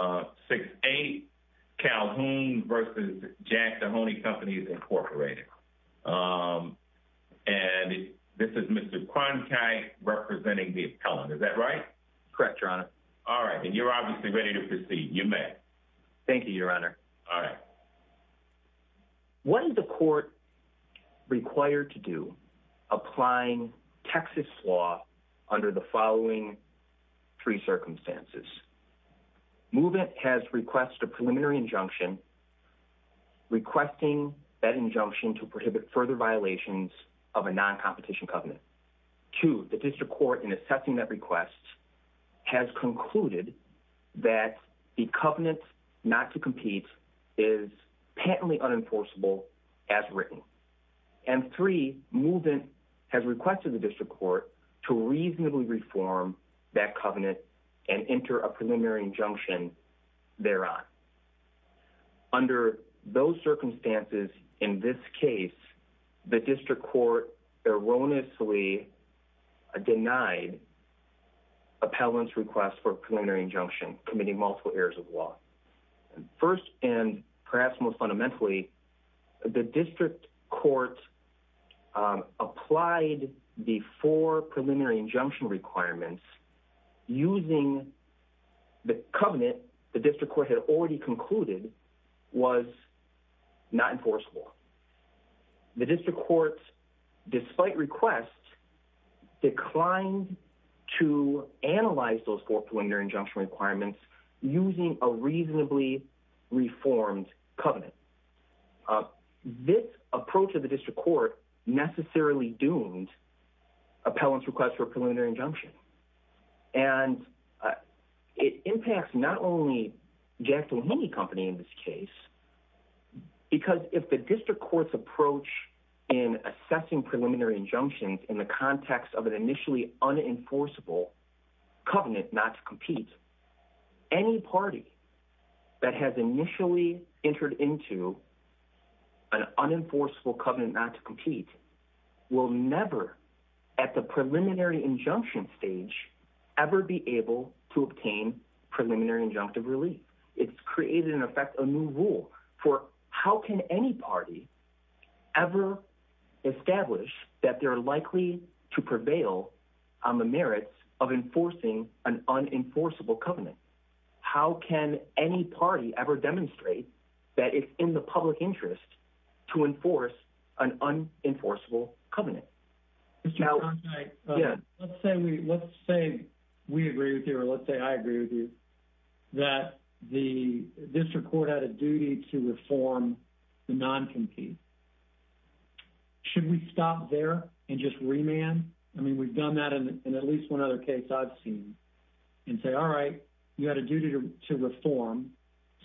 6-8 Calhoun v. Jack Doheny Companies, Inc. And this is Mr. Cronkite representing the appellant. Is that right? Correct, Your Honor. All right. And you're obviously ready to proceed. You may. Thank you, Your Honor. All right. What is the court required to do applying Texas law under the following three circumstances? 1. Movement has requested a preliminary injunction requesting that injunction to prohibit further violations of a non-competition covenant. 2. The district court, in assessing that request, has concluded that the covenant not to compete is patently unenforceable as written. And 3. Movement has requested the district court to reasonably reform that covenant and enter a preliminary injunction thereof. Under those circumstances, in this case, the district court erroneously denied appellant's request for a preliminary injunction, committing multiple errors of law. First, and perhaps most fundamentally, the district court applied the four preliminary injunction requirements using the covenant the district court had already concluded was not enforceable. The district court, despite requests, declined to analyze those four preliminary injunction requirements using a reasonably reformed covenant. This approach of the district court necessarily doomed appellant's request for a preliminary injunction. And it impacts not only Jack Doheny Company in this case, because if the district court's approach in assessing preliminary injunctions in the context of an initially unenforceable covenant not to compete, any party that has initially entered into an unenforceable covenant not to compete will never, at the preliminary injunction stage, ever be able to obtain preliminary injunctive relief. It's created, in effect, a new rule for how can any party ever establish that they're likely to prevail on the merits of enforcing an unenforceable covenant? How can any party ever demonstrate that it's in the public interest to enforce an unenforceable covenant? John, let's say we agree with you, or let's say I agree with you, that the district court had a duty to reform the non-compete. Should we stop there and just remand? I mean, we've done that in at least one other case I've seen, and say, all right, you had a duty to reform,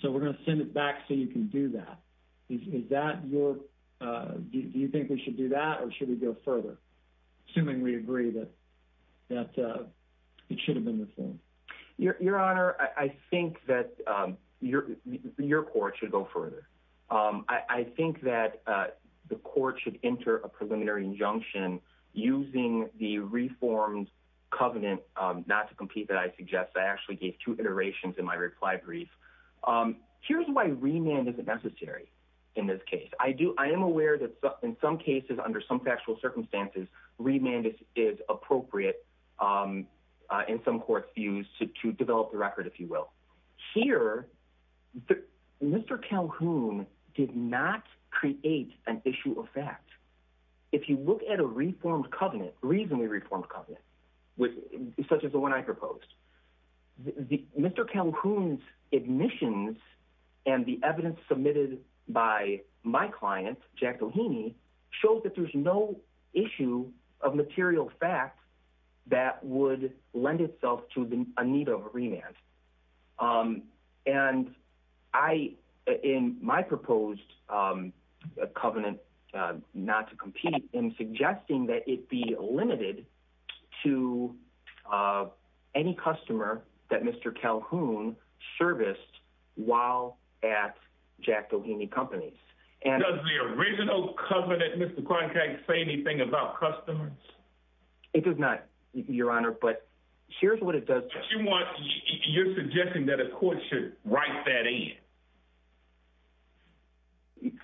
so we're going to send it back so you can do that. Do you think we should do that, or should we go further, assuming we agree that it should have been reformed? Your Honor, I think that your court should go further. I think that the court should enter a preliminary injunction using the reformed covenant not to compete that I suggest. I actually gave two iterations in my reply brief. Here's why remand isn't necessary in this case. I am aware that in some cases, under some factual circumstances, remand is appropriate in some court's views to develop the record, if you will. Here, Mr. Calhoun did not create an issue of fact. If you look at a reformed covenant, reasonably reformed covenant, which is such as the one I proposed, Mr. Calhoun's admissions and the evidence submitted by my client, Jack Doheny, shows that there's no issue of material fact that would lend itself to a need of a remand. In my proposed covenant not to compete, I'm suggesting that it be limited to any customer that Mr. Calhoun serviced while at Jack Doheny companies. Does the original covenant, Mr. Cronkite, say anything about customers? It does not, Your Honor, but here's what it does. You're suggesting that a court should write that in.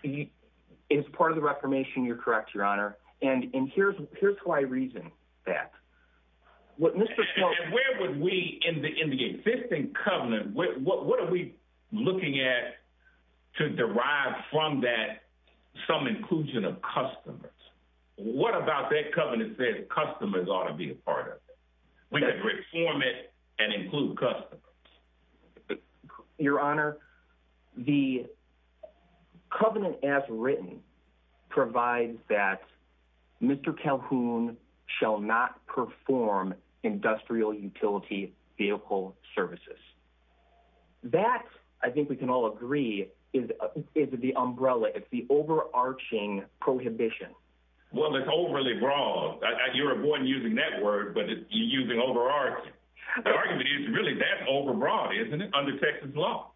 It is part of the reformation. You're correct, Your Honor. Here's why I reason that. Where would we, in the existing covenant, what are we looking at to derive from that some inclusion of customers? What about that covenant that says customers ought to be a part of it? We could reform it and include customers. Your Honor, the covenant as written provides that Mr. Calhoun shall not perform industrial utility vehicle services. That, I think we can all agree, is the umbrella. It's the overarching prohibition. Well, it's overly broad. You're avoiding using that word, but you're using overarching. The argument is really that overbroad, isn't it, under Texas law?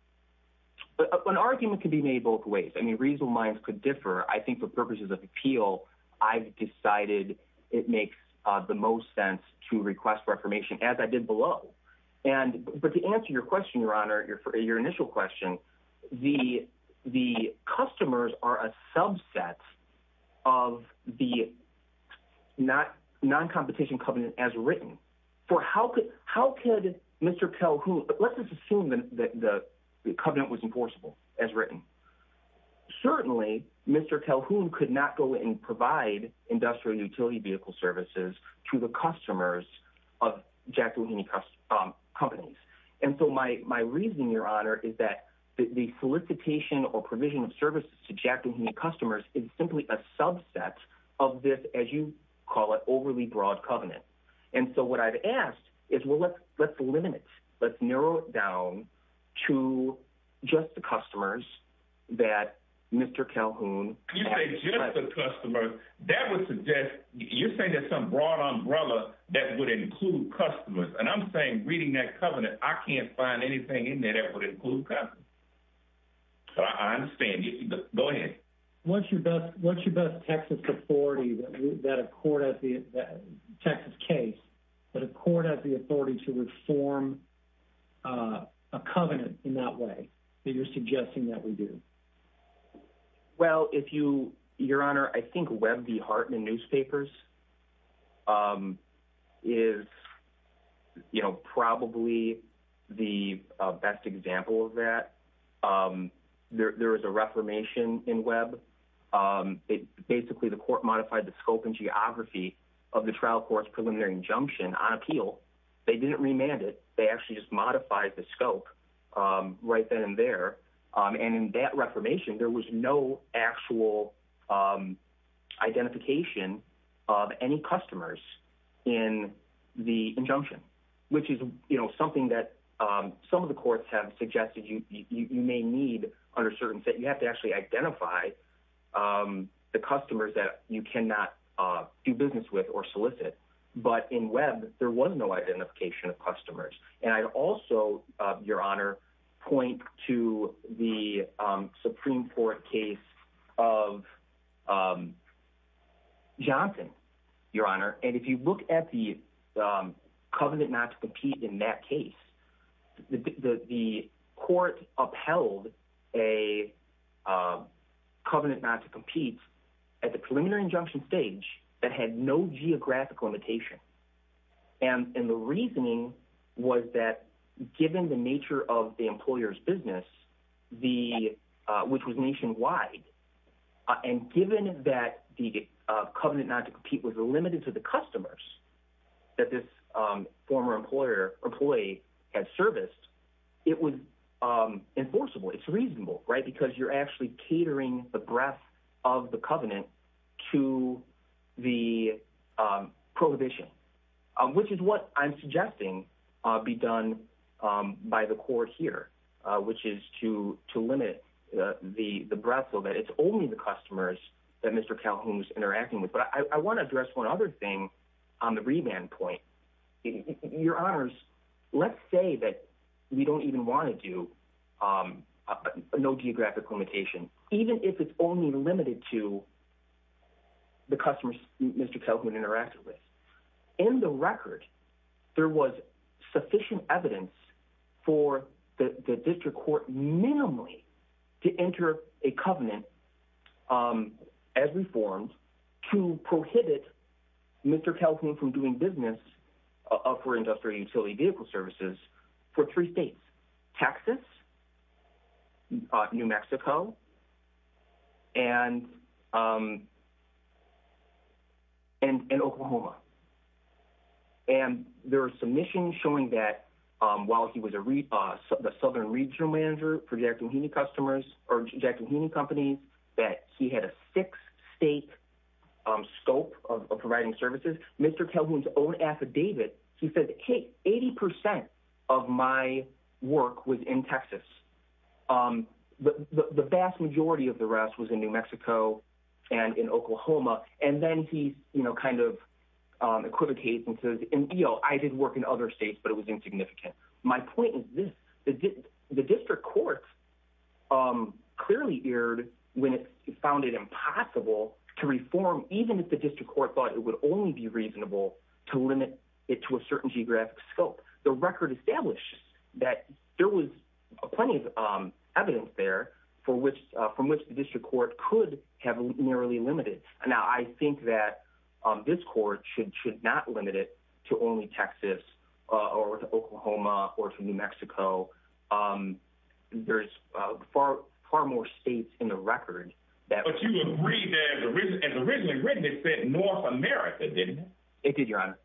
An argument can be made both ways. I mean, reasonable minds could differ. I think for purposes of appeal, I've decided it makes the most sense to request reformation as I did below. But to answer your question, Your Honor, your initial question, the customers are subsets of the non-competition covenant as written. Let's just assume that the covenant was enforceable, as written. Certainly, Mr. Calhoun could not go in and provide industrial utility vehicle services to the customers of Jack Dalhouni companies. My reason, Your Honor, is that the solicitation or provision of services to Jack Dalhouni customers is simply a subset of this, as you call it, overly broad covenant. What I've asked is, well, let's limit it. Let's narrow it down to just the customers that Mr. Calhoun— You say just the customers. You're saying there's some broad umbrella that would include customers. I'm saying, go ahead. What's your best Texas authority that a court has the—Texas case, that a court has the authority to reform a covenant in that way that you're suggesting that we do? Well, if you—Your Honor, I think Webb v. Hartman newspapers is probably the best example of that. There was a reformation in Webb. Basically, the court modified the scope and geography of the trial court's preliminary injunction on appeal. They didn't remand it. They actually modified the scope right then and there. In that reformation, there was no actual identification of any customers in the injunction, which is something that some of the courts have suggested you may need under certain set. You have to actually identify the customers that you cannot do business with or solicit. In Webb, there was no identification of customers. I'd also, Your Honor, point to the Supreme Court case of Johnson, Your Honor. If you look at the covenant not to compete in that case, the court upheld a covenant not to compete at the preliminary injunction stage that had no geographic limitation. The reasoning was that given the nature of the employer's business, which was nationwide, and given that the covenant not to compete was limited to the customers that this former employee had serviced, it was enforceable. It's reasonable because you're catering the breadth of the covenant to the prohibition, which is what I'm suggesting be done by the court here, which is to limit the breadth so that it's only the customers that Mr. Calhoun was interacting with. I want to address one other thing on the remand point. Your Honors, let's say that we don't even want to do no geographic limitation, even if it's only limited to the customers Mr. Calhoun interacted with. In the record, there was sufficient evidence for the district court minimally to enter a covenant as reformed to prohibit Mr. Calhoun from doing business for industrial utility vehicle services for three states, Texas, New Mexico, and Oklahoma. There are submissions showing that while he was the southern regional manager projecting unique companies, that he had a six-state scope of providing services. Mr. Calhoun's own affidavit, he said, hey, 80% of my work was in Texas. The vast majority of the rest was in New Mexico and in Oklahoma. Then he equivocates and says, I did work in other states, but it was insignificant. My point is this. The district court clearly erred when it found it impossible to reform, even if the district court thought it would only be reasonable to limit it to a certain geographic scope. The record establishes that there was plenty of evidence there from which the district court could have narrowly limited. I think that this court should not limit it to only Texas or to Oklahoma or to New Mexico. There's far more states in the record. But you agree that as originally written, it said North America, didn't it? It did, Your Honor.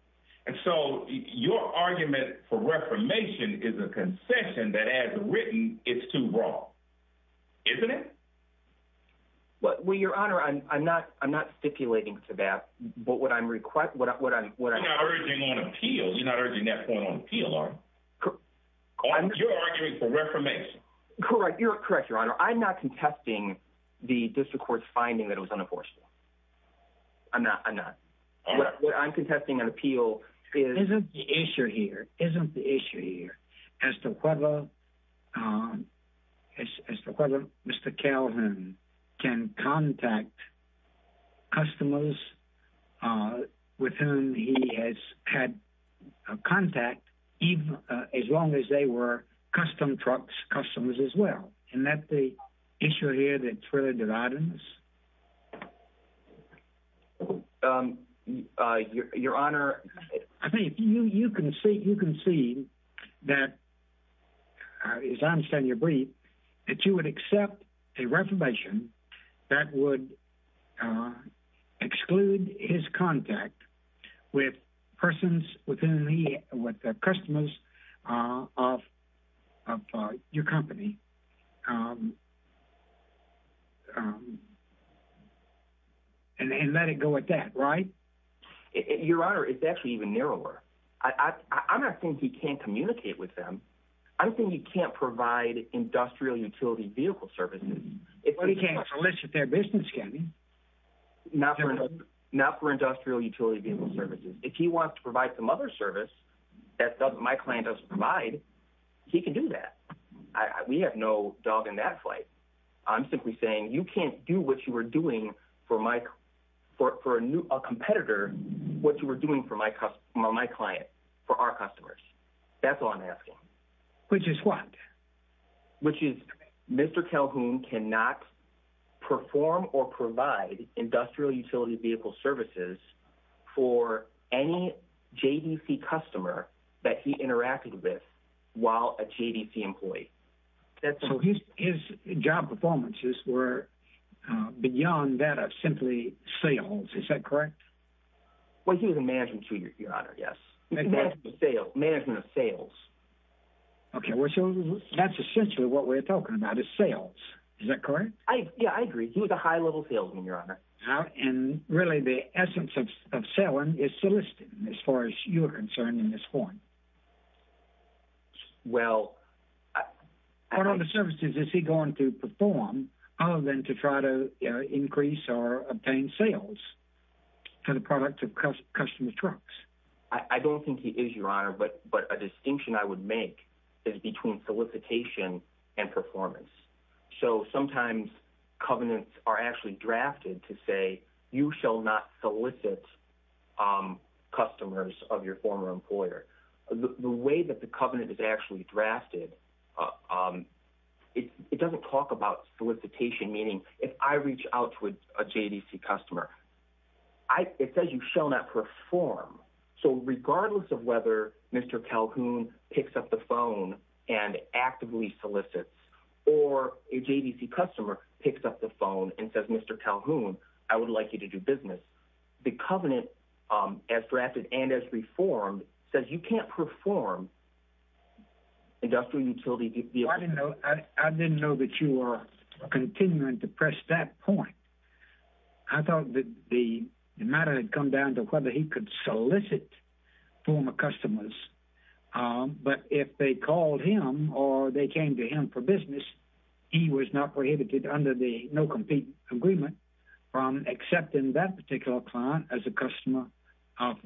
And so your argument for reformation is a concession that as written, it's too wrong, isn't it? Well, Your Honor, I'm not stipulating to that. You're not urging on appeals. You're not urging that point on appeal. You're arguing for reformation. Correct. You're correct, Your Honor. I'm not contesting the district court's finding that it was unenforceable. I'm not. I'm not. What I'm contesting on appeal is... ...isn't the issue here as to whether Mr. Calhoun can contact customers with whom he has had contact, even as long as they were custom trucks customers as well. Isn't that the issue here that's really dividing this? Your Honor, I think you can see that, as I understand your brief, that you would accept a reformation that would exclude his contact with persons with whom he, with the customers of your company and let it go at that, right? Your Honor, it's actually even narrower. I don't think he can't communicate with them. I don't think he can't provide industrial utility vehicle services. But he can't solicit their business, can he? Not for industrial utility vehicle services. If he wants to provide some other service that my client doesn't provide, he can do that. We have no dog in that fight. I'm simply saying you can't do what you were doing for a competitor what you were doing for my client, for our customers. That's all I'm asking. Which is what? Which is Mr. Calhoun cannot perform or provide industrial utility vehicle services for any JDC customer that he interacted with while a JDC employee. His job performances were beyond that of simply sales. Is that correct? He was a management tutor, your Honor. Management of sales. That's essentially what we're talking about, is sales. Is that correct? I agree. He was a high-level salesman, your Honor. And really, the essence of selling is soliciting, as far as you're concerned, in this form. Well... What other services is he going to perform other than to try to increase or obtain sales for the product of customer trucks? I don't think he is, your Honor. But a distinction I would make is between solicitation and performance. So sometimes covenants are actually drafted to say you shall not solicit customers of your former employer. The way that the covenant is actually drafted, it doesn't talk about solicitation, meaning if I reach out to a JDC customer, it says you shall not perform. So regardless of whether Mr. Calhoun picks up the phone and actively solicits, or a JDC customer picks up the phone and says, Mr. Calhoun, I would like you to do business, the covenant, as drafted and as reformed, says you can't perform industrial utility... I didn't know that you were continuing to press that point. I thought that the matter had come down to whether he could solicit former customers. Um, but if they called him or they came to him for business, he was not prohibited under the no-compete agreement from accepting that particular client as a customer of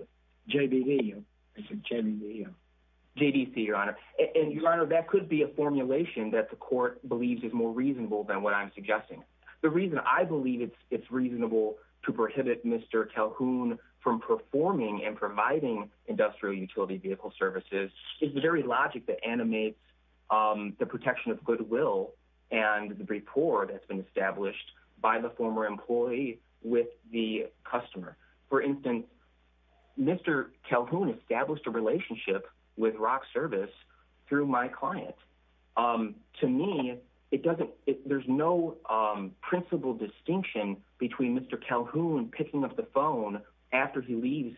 JDC. JDC, your Honor. And your Honor, that could be a formulation that the court believes is more reasonable than what I'm suggesting. The reason I believe it's reasonable to prohibit Mr. Calhoun from performing and providing industrial utility vehicle services is the very logic that animates the protection of goodwill and the rapport that's been established by the former employee with the customer. For instance, Mr. Calhoun established a relationship with Rock Service through my client. To me, there's no principle distinction between Mr. Calhoun picking up the phone after he leaves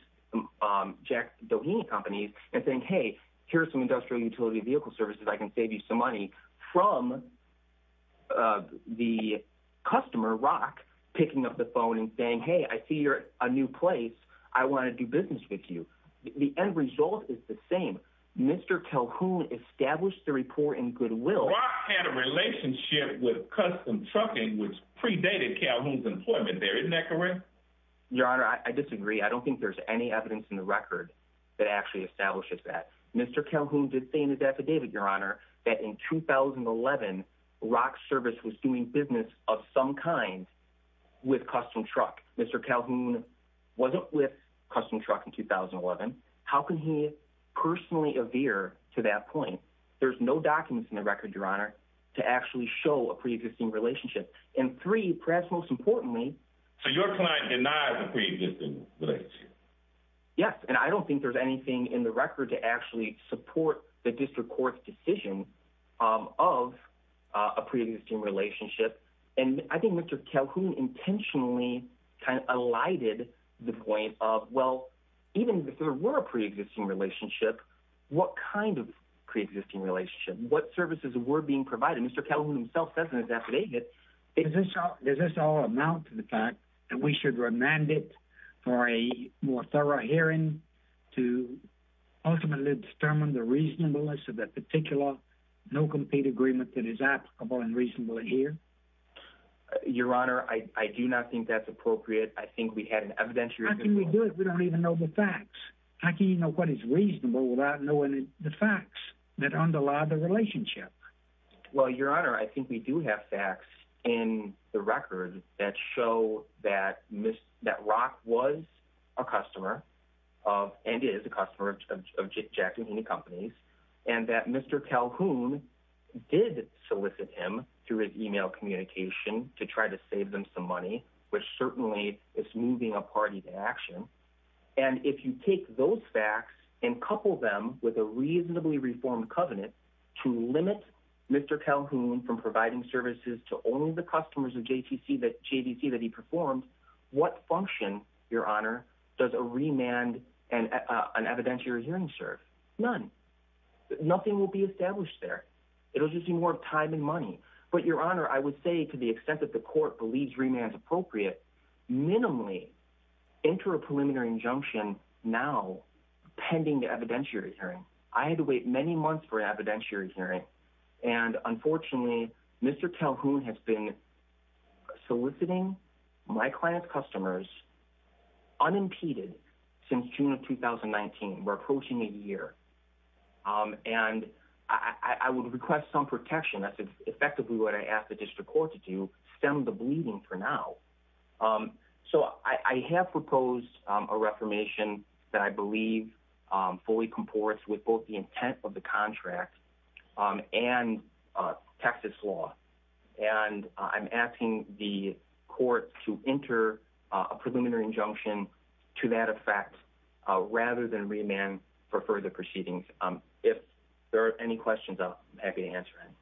Jack Doheny Companies and saying, hey, here's some industrial utility vehicle services, I can save you some money, from the customer, Rock, picking up the phone and saying, hey, I see you're a new place, I want to do business with you. The end result is the same. Mr. Calhoun established the rapport in goodwill. Rock had a relationship with Custom Trucking which predated Calhoun's employment there, isn't that correct? Your Honor, I disagree. I don't think there's any evidence in the record that actually establishes that. Mr. Calhoun did say in his affidavit, your Honor, that in 2011, Rock Service was doing business of some kind with Custom Truck. Mr. Calhoun wasn't with Custom Truck in 2011. How can he personally adhere to that point? There's no documents in the record, your Honor, to actually show a pre-existing relationship. And three, perhaps most importantly... So your client denies a pre-existing relationship? Yes, and I don't think there's anything in the record to actually support the district court's decision of a pre-existing relationship. And I think Mr. Calhoun intentionally kind of alighted the point of, well, even if there were a pre-existing relationship, what kind of pre-existing relationship? What services were being provided? Mr. Calhoun himself says in his affidavit... Does this all amount to the fact that we should remand it for a more no-compete agreement that is applicable and reasonable here? Your Honor, I do not think that's appropriate. I think we had an evidentiary... How can we do it if we don't even know the facts? How can you know what is reasonable without knowing the facts that underlie the relationship? Well, your Honor, I think we do have facts in the record that show that Rock was a customer of, and is a customer of Jack Mahoney Companies, and that Mr. Calhoun did solicit him through his email communication to try to save them some money, which certainly is moving a party to action. And if you take those facts and couple them with a reasonably reformed covenant to limit Mr. Calhoun from providing services to only the customers of JVC that he performed, what function, your Honor, does a remand and an evidentiary hearing serve? None. Nothing will be established there. It'll just be more time and money. But your Honor, I would say to the extent that the court believes remand is appropriate, minimally enter a preliminary injunction now pending the evidentiary hearing. I had to wait many months for an evidentiary hearing, and unfortunately, Mr. Calhoun has been soliciting my client's customers unimpeded since June of 2019. We're approaching a year, and I would request some protection. That's effectively what I asked the district court to do, stem the bleeding for now. So I have proposed a reformation that I believe fully comports with both the intent of the contract and Texas law. And I'm asking the court to enter a preliminary injunction to that effect rather than remand for further proceedings. If there are any questions, I'm happy to answer any.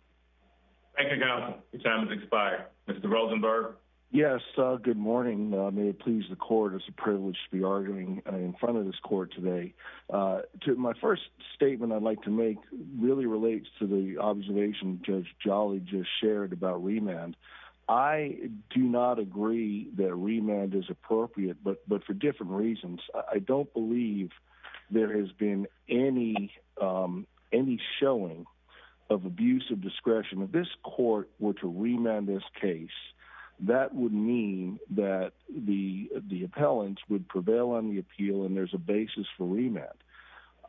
Thank you, Your Honor. Your time has expired. Mr. Rosenberg? Yes. Good morning. May it please the court, it's a privilege to be arguing in front of this court today. My first statement I'd like to make really relates to the observation Judge Jolly just shared about remand. I do not agree that remand is appropriate, but for different reasons. I don't believe there has been any showing of abuse of discretion. If this court were to remand this case, that would mean that the appellants would prevail on the appeal and there's a basis for remand.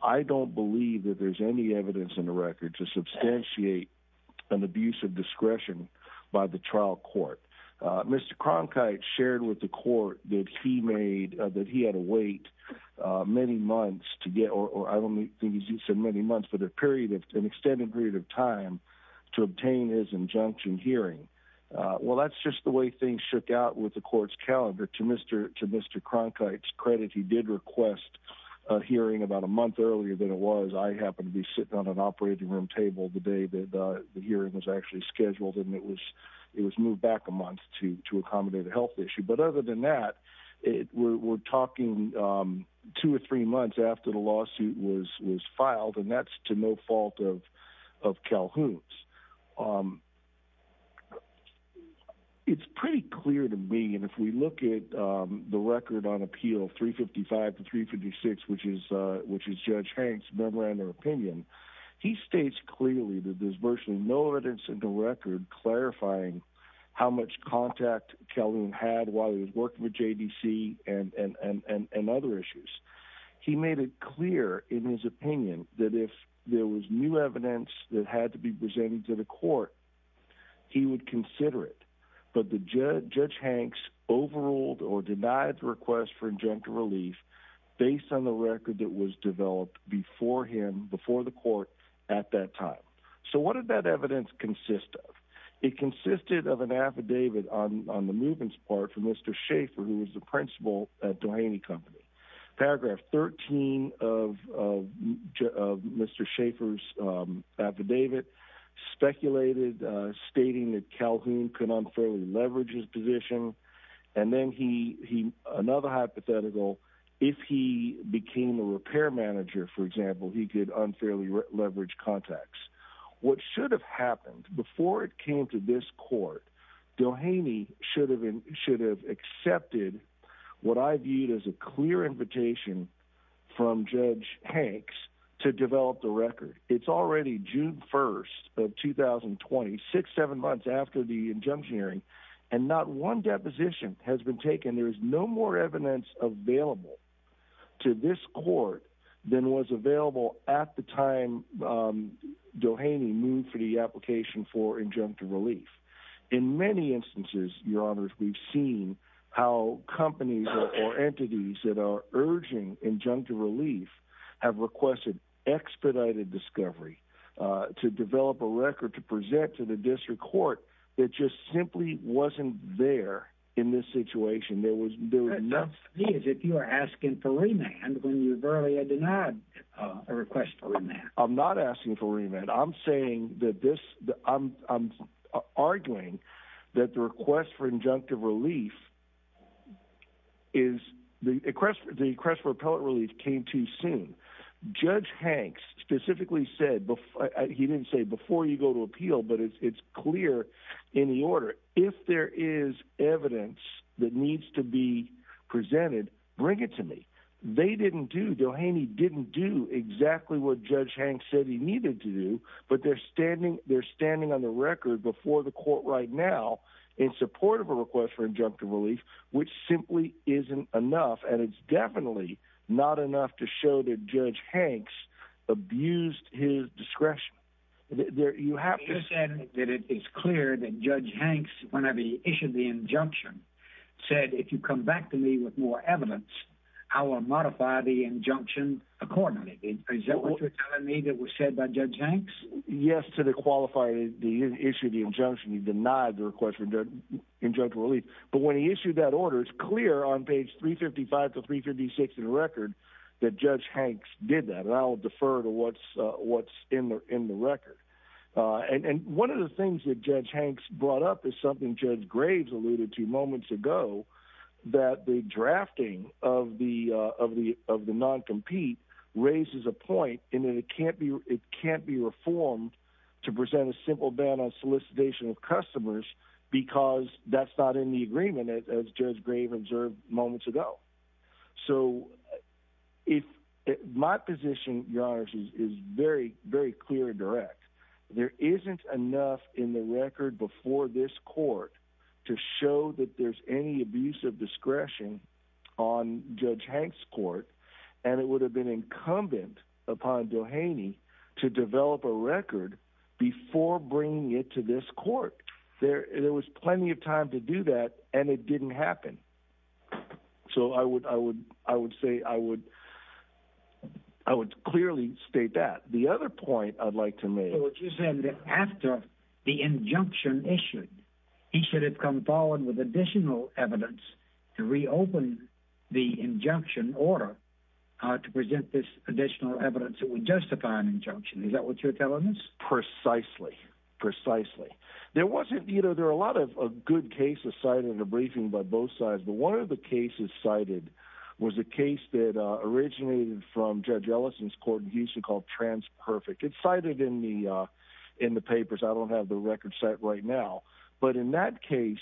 I don't believe that there's any evidence in the record to substantiate an abuse of discretion by the trial court. Mr. Cronkite shared with the court that he had to wait many months to get, or I don't think he said many months, but an extended period of time to obtain his injunction hearing. Well, that's just the way things shook out with the court's calendar. To Mr. Cronkite's credit, he did request a hearing about a month earlier than it was. I happened to be sitting on an operating room table the day that the hearing was actually scheduled and it was moved back a month to accommodate a health issue. But other than that, we're talking two or three months after the lawsuit was filed, and that's to no fault of Calhoun's. It's pretty clear to me, and if we look at the record on Appeal 355 to 356, which is Judge Hank's memorandum of opinion, he states clearly that there's virtually no evidence in the record clarifying how much contact Calhoun had while he was working with JDC and other issues. He made it clear in his opinion that if there was new evidence that had to be presented to the court, he would consider it. But Judge Hank's overruled or denied the request for injunctive relief based on the record that was developed before him, before the court at that time. So what did that evidence consist of? It consisted of an affidavit on the movements part from Mr. Schaefer, who was the principal at Doheny Company. Paragraph 13 of Mr. Schaefer's affidavit speculated stating that Calhoun could unfairly leverage his position. And then another hypothetical, if he became a repair manager, for example, he could unfairly leverage contacts. What should have happened before it came to this court, Doheny should have accepted what I viewed as a clear invitation from Judge Hank's to develop the record. It's already June 1st of 2020, six, seven months after the injunction hearing, and not one deposition has been taken. There is no more evidence available to this court than was available at the time Doheny moved for the application for injunctive relief. In many instances, your honors, we've seen how companies or entities that are urging injunctive relief have requested expedited discovery to develop a record to present to the district court. It just simply wasn't there in this situation. There was, there was not- If you are asking for remand when you've asked for remand, I'm saying that this, I'm arguing that the request for injunctive relief is, the request for appellate relief came too soon. Judge Hank specifically said, he didn't say before you go to appeal, but it's clear in the order, if there is evidence that needs to be presented, bring it to me. They didn't do, Doheny didn't do exactly what Judge Hank said he needed to do, but they're standing, they're standing on the record before the court right now in support of a request for injunctive relief, which simply isn't enough. And it's definitely not enough to show that Judge Hank's abused his discretion. You have to- You said that it is clear that Judge Hank's, whenever he issued the injunction, said, if you come back to me with more evidence, I will modify the injunction accordingly. Is that what you're telling me that was said by Judge Hank's? Yes, to the qualifier, the issue of the injunction, he denied the request for injunctive relief. But when he issued that order, it's clear on page 355 to 356 of the record that Judge Hank's did that. And I will defer to what's in the record. And one of the things that Judge Hank's brought up is something Judge Graves alluded to moments ago, that the drafting of the non-compete raises a point in that it can't be reformed to present a simple ban on solicitation of customers because that's not in the agreement as Judge Graves observed moments ago. So my position, Your Honor, is very, very clear and direct. There isn't enough in the record before this court to show that there's any abuse of discretion on Judge Hank's court, and it would have been incumbent upon Doheny to develop a record before bringing it to this court. There was plenty of time to do that, and it didn't happen. So I would clearly state that. The other point I'd like to make... So what you're saying is that after the injunction issued, he should have come forward with additional evidence to reopen the injunction order to present this additional evidence that would justify an injunction. Is that what you're telling us? Precisely. Precisely. There wasn't... You know, there are a lot of good cases cited in the briefing by both sides, but one of the cases cited was a case that originated from Judge Ellison's court in Houston called TransPerfect. It's cited in the papers. I don't have the record right now, but in that case,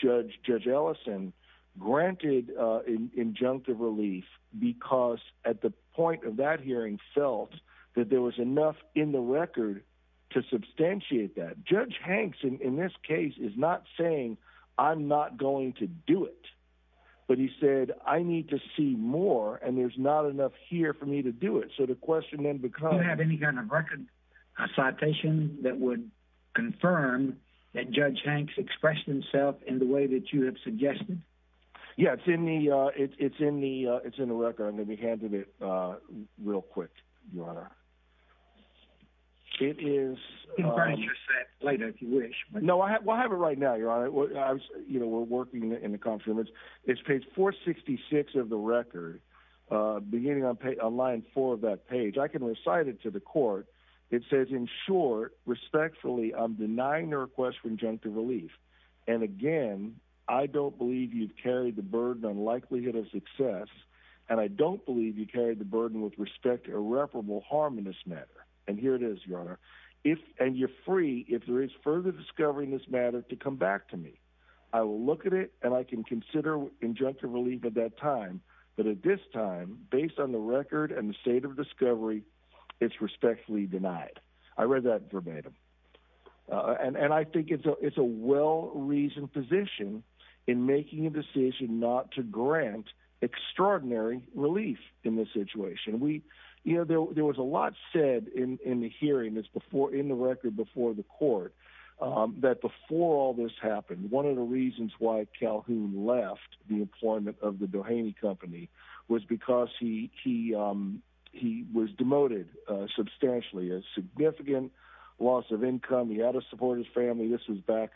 Judge Ellison granted injunctive relief because at the point of that hearing felt that there was enough in the record to substantiate that. Judge Hanks, in this case, is not saying, I'm not going to do it, but he said, I need to see more, and there's not enough here for me to do it. So the question then becomes... A citation that would confirm that Judge Hanks expressed himself in the way that you have suggested? Yeah, it's in the record. I'm going to hand it real quick, Your Honor. It is... You can burn your set later if you wish. No, I have it right now, Your Honor. We're working in the conference room. It's page 466 of the In short, respectfully, I'm denying your request for injunctive relief. And again, I don't believe you've carried the burden on likelihood of success, and I don't believe you carried the burden with respect to irreparable harm in this matter. And here it is, Your Honor. And you're free, if there is further discovery in this matter, to come back to me. I will look at it, and I can consider injunctive relief at that time, but at this time, based on the record and the state of discovery, it's respectfully denied. I read that verbatim. And I think it's a well-reasoned position in making a decision not to grant extraordinary relief in this situation. There was a lot said in the hearing, in the record before the court, that before all this happened, one of the reasons why Calhoun left the employment of the Doheny Company was because he was demoted substantially. A significant loss of income. He had to support his family. This was back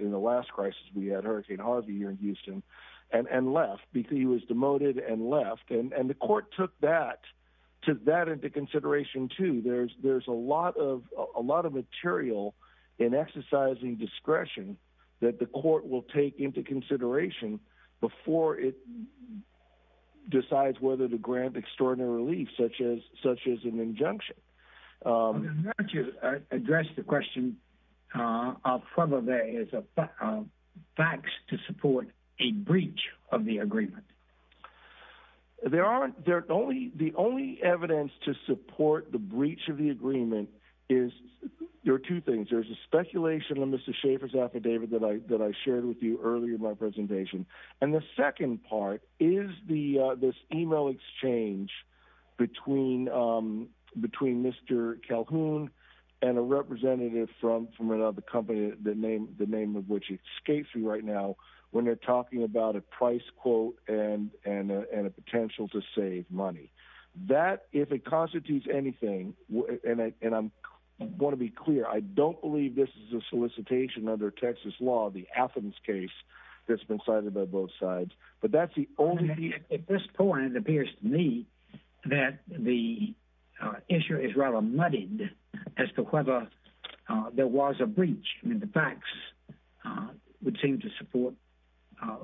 in the last crisis we had, Hurricane Harvey here in Houston, and left because he was demoted and left. And the court took that into consideration, too. There's a lot of material in exercising discretion that the court will take into consideration before it decides whether to grant extraordinary relief, such as an injunction. Why don't you address the question of whether there is facts to support a breach of the agreement? The only evidence to support the breach of the agreement is, there are two things. There's a and the second part is this email exchange between Mr. Calhoun and a representative from another company, the name of which escapes me right now, when they're talking about a price quote and a potential to save money. That, if it constitutes anything, and I want to be clear, I don't believe this is a solicitation under Texas law, the Athens case that's been cited by both sides. But that's the only... At this point, it appears to me that the issue is rather muddied as to whether there was a breach. I mean, the facts would seem to support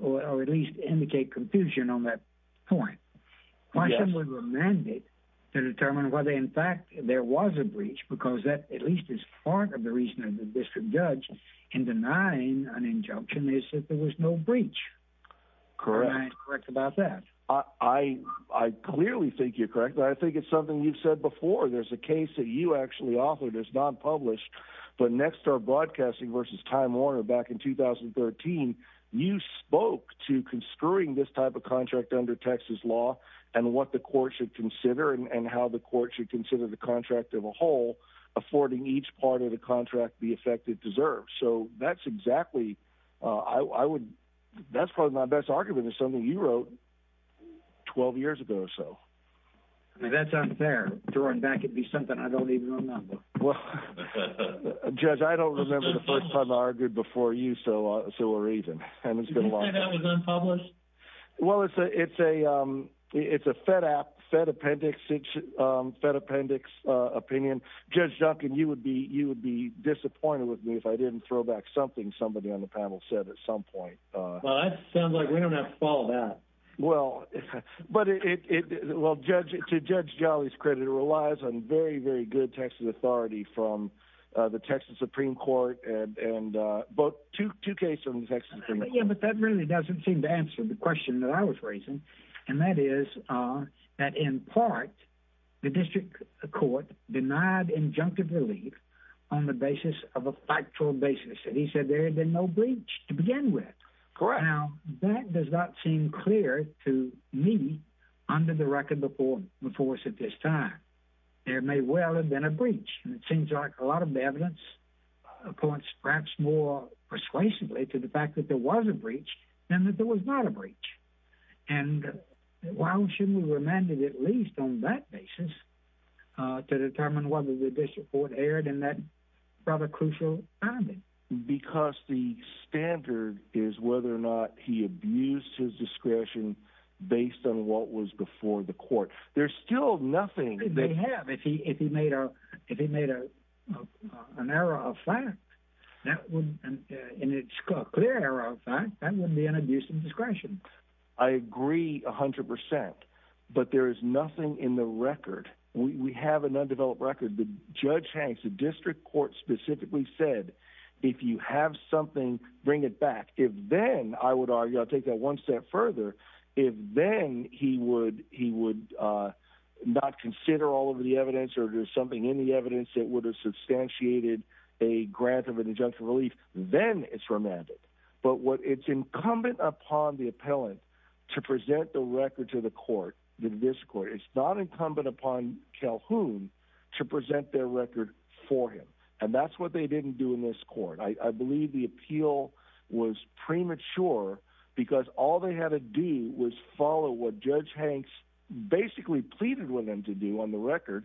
or at least indicate confusion on that point. Why should we remand it to determine whether, in fact, there was a breach? Because that at least is part of the reason that the district judge in denying an injunction is that there was no breach. Am I correct about that? I clearly think you're correct, but I think it's something you've said before. There's a case that you actually offered that's not published, but Nextdoor Broadcasting versus Time Warner back in 2013, you spoke to construing this type of contract under Texas law and what the court should consider and how the court should consider the contract of a whole, affording each part of the contract the effect it deserves. So that's exactly... That's probably my best argument, is something you wrote 12 years ago or so. I mean, that's unfair to run back. It'd be something I don't even remember. Well, Judge, I don't remember the first time I argued before you, so we're even. Did you say that was unpublished? Well, it's a Fed App, Fed Appendix opinion. Judge Duncan, you would be disappointed with me if I didn't throw back something somebody on the panel said at some point. Well, that sounds like we don't have to follow that. Well, to Judge Jolly's credit, it relies on very, very good Texas Supreme Court and both two cases in the Texas Supreme Court. Yeah, but that really doesn't seem to answer the question that I was raising, and that is that in part, the district court denied injunctive relief on the basis of a factual basis, and he said there had been no breach to begin with. Correct. Now, that does not seem clear to me under the record before us at this time. There may well have been a breach, and it seems like a lot of the evidence points perhaps more persuasively to the fact that there was a breach than that there was not a breach, and why shouldn't we remand it at least on that basis to determine whether the district court erred in that rather crucial finding? Because the standard is whether or not he abused his discretion. If he made an error of fact, and it's a clear error of fact, that wouldn't be an abuse of discretion. I agree 100 percent, but there is nothing in the record. We have an undeveloped record, but Judge Hanks, the district court specifically said, if you have something, bring it back. If then, I would argue, I'll take that one step further, if then he would not consider all of the evidence, or there's something in the evidence that would have substantiated a grant of an injunction relief, then it's remanded. But it's incumbent upon the appellant to present the record to the court, this court. It's not incumbent upon Calhoun to present their record for him, and that's what they didn't do in this court. I believe the appeal was premature, because all they had to do was follow what Judge Hanks basically pleaded with them to do on the record,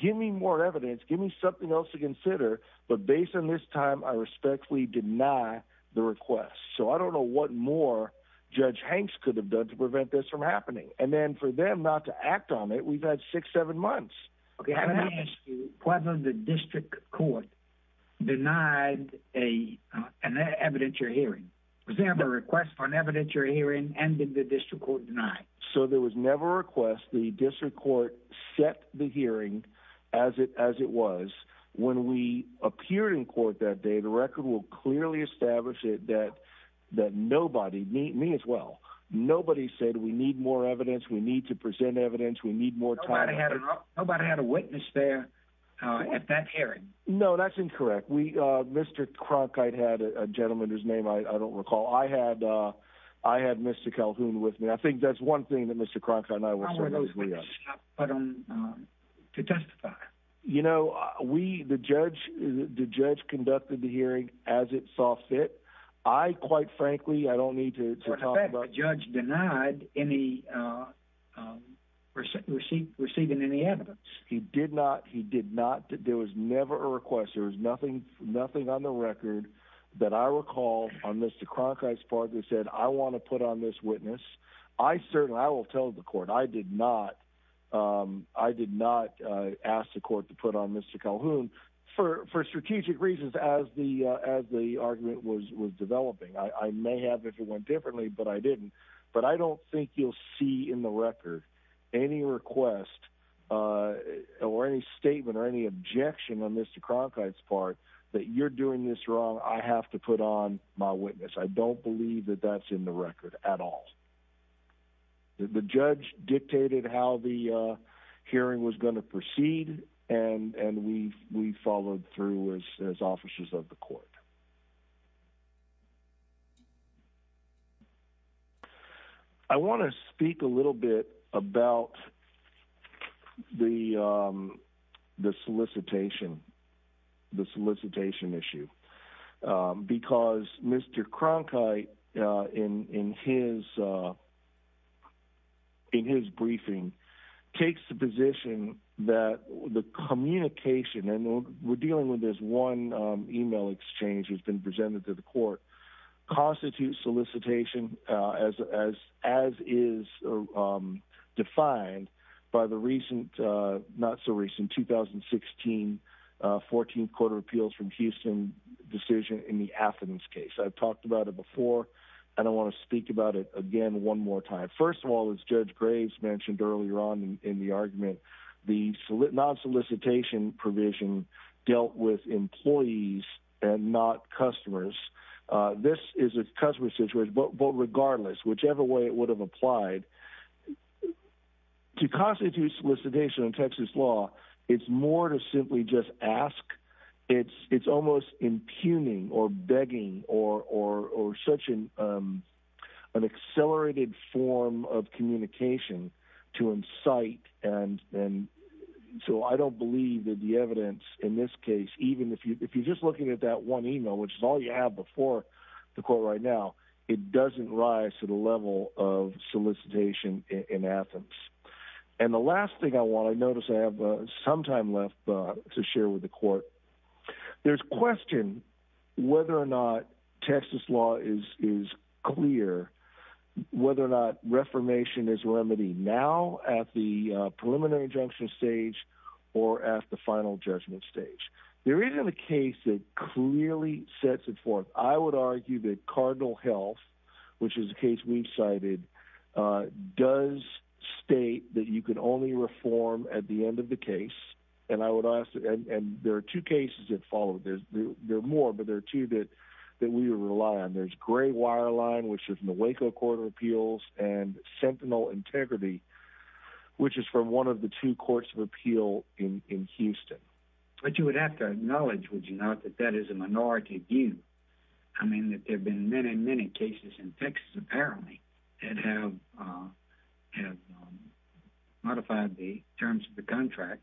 give me more evidence, give me something else to consider, but based on this time, I respectfully deny the request. So I don't know what more Judge Hanks could have done to prevent this from happening. And then for them not to act on it, we've had six, seven months. Okay, I'm going to ask you whether the district court denied an evidentiary hearing. Was there ever a request for an evidentiary hearing, and did the district court deny? So there was never a request. The district court set the hearing as it was. When we appeared in court that day, the record will clearly establish that nobody, me as well, nobody said we need more evidence, we need to present evidence, we need more time. Nobody had a witness there at that hearing? No, that's incorrect. We, Mr. Cronkite had a gentleman whose name I don't recall. I had Mr. Calhoun with me. I think that's one thing that Mr. Cronkite and I will certainly agree on. How were those witnesses put on to testify? You know, we, the judge conducted the hearing as it saw fit. I, quite frankly, I don't recall Mr. Calhoun receiving any evidence. He did not. He did not. There was never a request. There was nothing on the record that I recall on Mr. Cronkite's part that said, I want to put on this witness. I certainly, I will tell the court, I did not ask the court to put on Mr. Calhoun for strategic reasons as the argument was developing. I may have if it went differently, but I didn't. But I don't think you'll see in the record any request or any statement or any objection on Mr. Cronkite's part that you're doing this wrong. I have to put on my witness. I don't believe that that's in the record at all. The judge dictated how the hearing was going to proceed, and we followed through as officers of the court. I want to speak a little bit about the solicitation, the solicitation issue, because Mr. Cronkite in his briefing takes the position that the communication, and we're dealing with this one email exchange that's been presented to the court, constitutes solicitation as is defined by the recent, not so recent, 2016 14th Court of Appeals from Houston decision in the Athens case. I've talked about it before, and I want to speak about it again one more time. First of all, as Judge Graves mentioned earlier on in the argument, the non-solicitation provision dealt with employees and not customers. This is a customer situation, but regardless, whichever way it would have applied, to constitute solicitation in Texas law, it's more to simply just ask. It's almost impugning or begging or such an accelerated form of communication to incite. I don't believe that the evidence in this case, even if you're just looking at that one email, which is all you have before the court right now, it doesn't rise to the level of solicitation in Athens. The last thing I want to notice, I have some time left to share with the court. There's a question whether or not Texas law is clear, whether or not reformation is remedied now at the preliminary injunction stage or at the final judgment stage. There isn't a case that clearly sets it forth. I would argue that Cardinal Health, which is a case we've cited, does state that you can only reform at the end of the case. There are two cases that follow. There are more, but there are two that we rely on. There's Gray Wireline, which is from the Waco Court of Appeals, and Sentinel Integrity, which is from one of the two courts of appeal in Houston. But you would have to acknowledge, would you not, that that is a minority view. I mean, there have been many, many cases in Texas, apparently, that have modified the terms of the contract.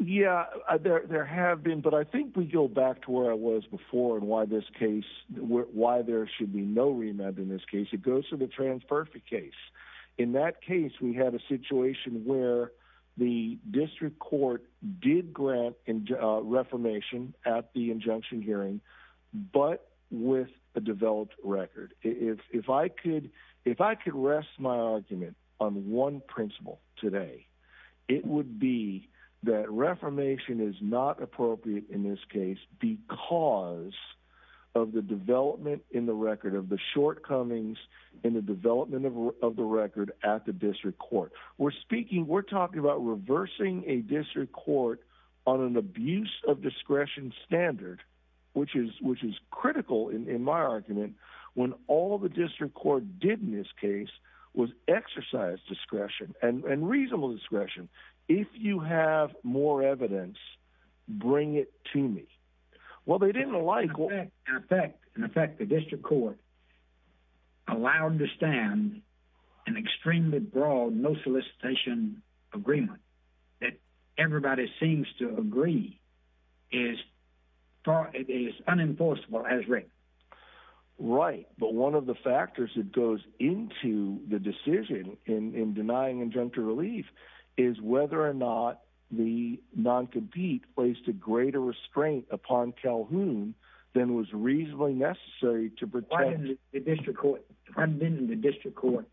Yeah, there have been, but I think we go back to where I was before and why this case, why there should be no remand in this case. It goes to the Trans-Perth case. In that case, we had a situation where the district court did grant reformation at the injunction hearing, but with a developed record. If I could rest my argument on one principle today, it would be that reformation is not appropriate in this case because of the development in the record, of the shortcomings in the development of the record at the district court. We're speaking, we're talking about reversing a district court on an abuse of discretion standard, which is critical in my argument, when all the district court did in this case was exercise discretion, and reasonable discretion. If you have more evidence, bring it to me. Well, they didn't in effect. In effect, the district court allowed to stand an extremely broad no solicitation agreement that everybody seems to agree is unenforceable as written. Right, but one of the factors that goes into the decision in denying injunctive relief is whether or not the non-compete placed a greater restraint upon Calhoun than was reasonably necessary to protect- Why didn't the district court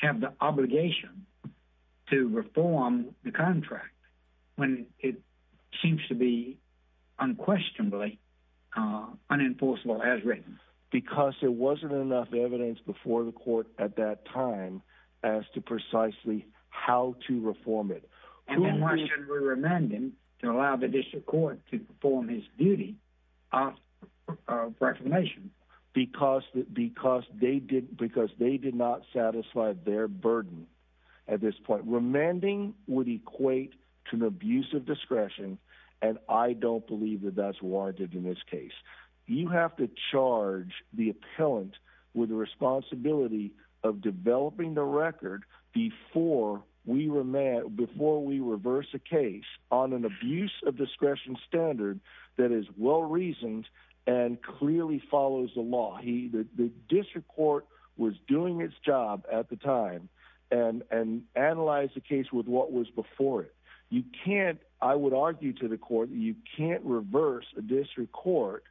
have the obligation to reform the contract when it seems to be unquestionably unenforceable as written? Because there wasn't enough evidence before the remanding to allow the district court to perform his duty of reclamation. Because they did not satisfy their burden at this point. Remanding would equate to an abuse of discretion, and I don't believe that that's what I did in this case. You have to charge the case on an abuse of discretion standard that is well-reasoned and clearly follows the law. The district court was doing its job at the time, and analyzed the case with what was before it. You can't, I would argue to the court, you can't reverse a district court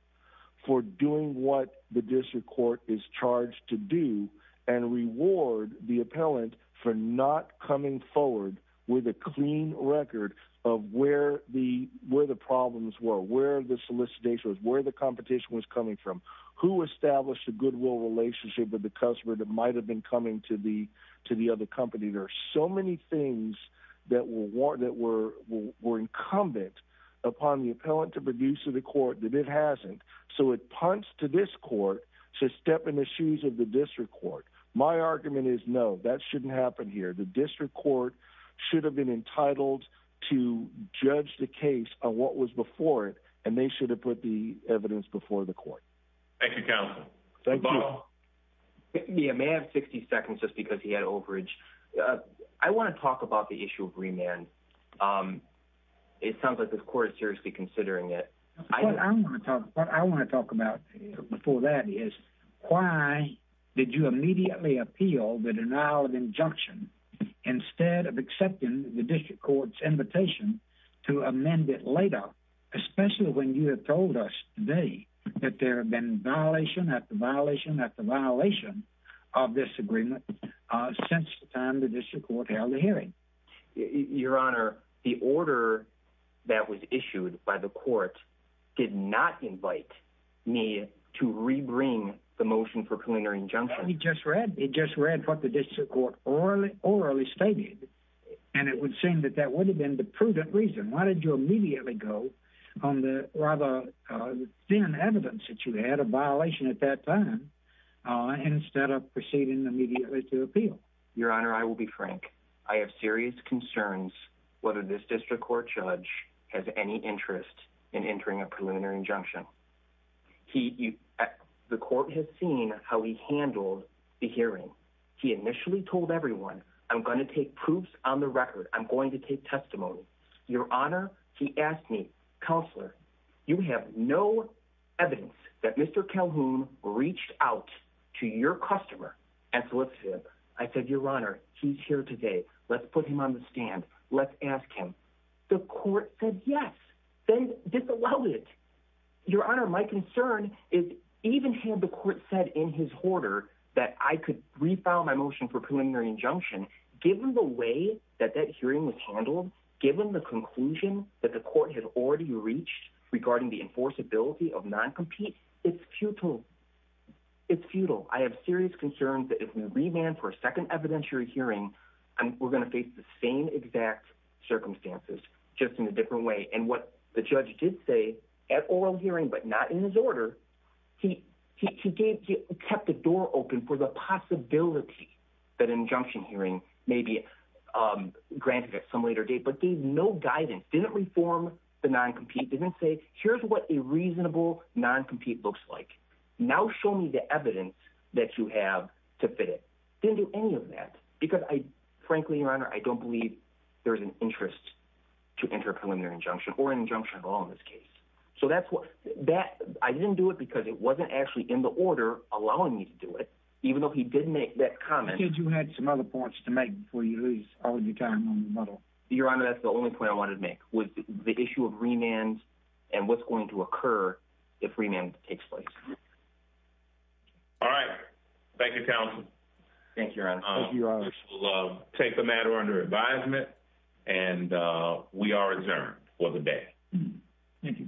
for doing what the district court is charged to do, and reward the appellant for not coming forward with a clean record of where the problems were, where the solicitation was, where the competition was coming from, who established a goodwill relationship with the customer that might have been coming to the other company. There are so many things that were incumbent upon the appellant to produce to the court that it hasn't. So it punts to this court to step in the shoes of the district court. My argument is no, that shouldn't happen here. The district court should have been entitled to judge the case on what was before it, and they should have put the evidence before the court. Thank you, counsel. Thank you. Yeah, may I have 60 seconds, just because he had overage. I want to talk about the issue of remand. It sounds like the court is seriously considering it. What I want to talk about before that is, why did you immediately appeal the denial of injunction instead of accepting the district court's invitation to amend it later, especially when you have told us today that there have been violation after violation after violation of this agreement since the time the district court held the hearing? Your Honor, the order that was issued by the court did not invite me to rebring the motion for preliminary injunction. We just read what the district court orally stated, and it would seem that that would have been the prudent reason. Why did you immediately go on the rather thin evidence that you had, a violation at that time, instead of proceeding immediately to appeal? Your Honor, I will be frank. I have serious concerns whether this district court judge has any interest in entering a preliminary injunction. He, the court has seen how he handled the hearing. He initially told everyone, I'm going to take proofs on the record. I'm going to take testimony. Your Honor, he asked me, Counselor, you have no evidence that Mr. Calhoun reached out to your customer and solicited. I said, Your Honor, he's here today. Let's put him on the stand. Let's ask him. The court said yes, then disallowed it. Your Honor, my concern is, even had the court said in his order that I could refile my motion for preliminary injunction, given the way that that hearing was handled, given the conclusion that the court had already reached regarding the enforceability of non-compete, it's futile. It's futile. I have serious concerns that if we remand for a second evidentiary hearing, we're going to face the same exact circumstances, just in a different way. What the judge did say at oral hearing, but not in his order, he kept the door open for the possibility that injunction hearing may be granted at some later date, but gave no guidance. Didn't reform the non-compete. Didn't say, here's what a reasonable non-compete looks like. Now show me the evidence that you have to fit it. Didn't do any of that. Because I, frankly, Your Honor, I don't believe there's an interest to enter a preliminary injunction or an injunction of law in this case. So that's what, that, I didn't do it because it wasn't actually in the order allowing me to do it, even though he did make that comment. Did you have some other points to make before you lose all your time on the model? Your Honor, that's the only point I wanted to make was the issue of remand and what's going to occur if remand takes place. All right. Thank you, counsel. Thank you, Your Honor. We'll take the matter under advisement and we are adjourned for the day. Thank you.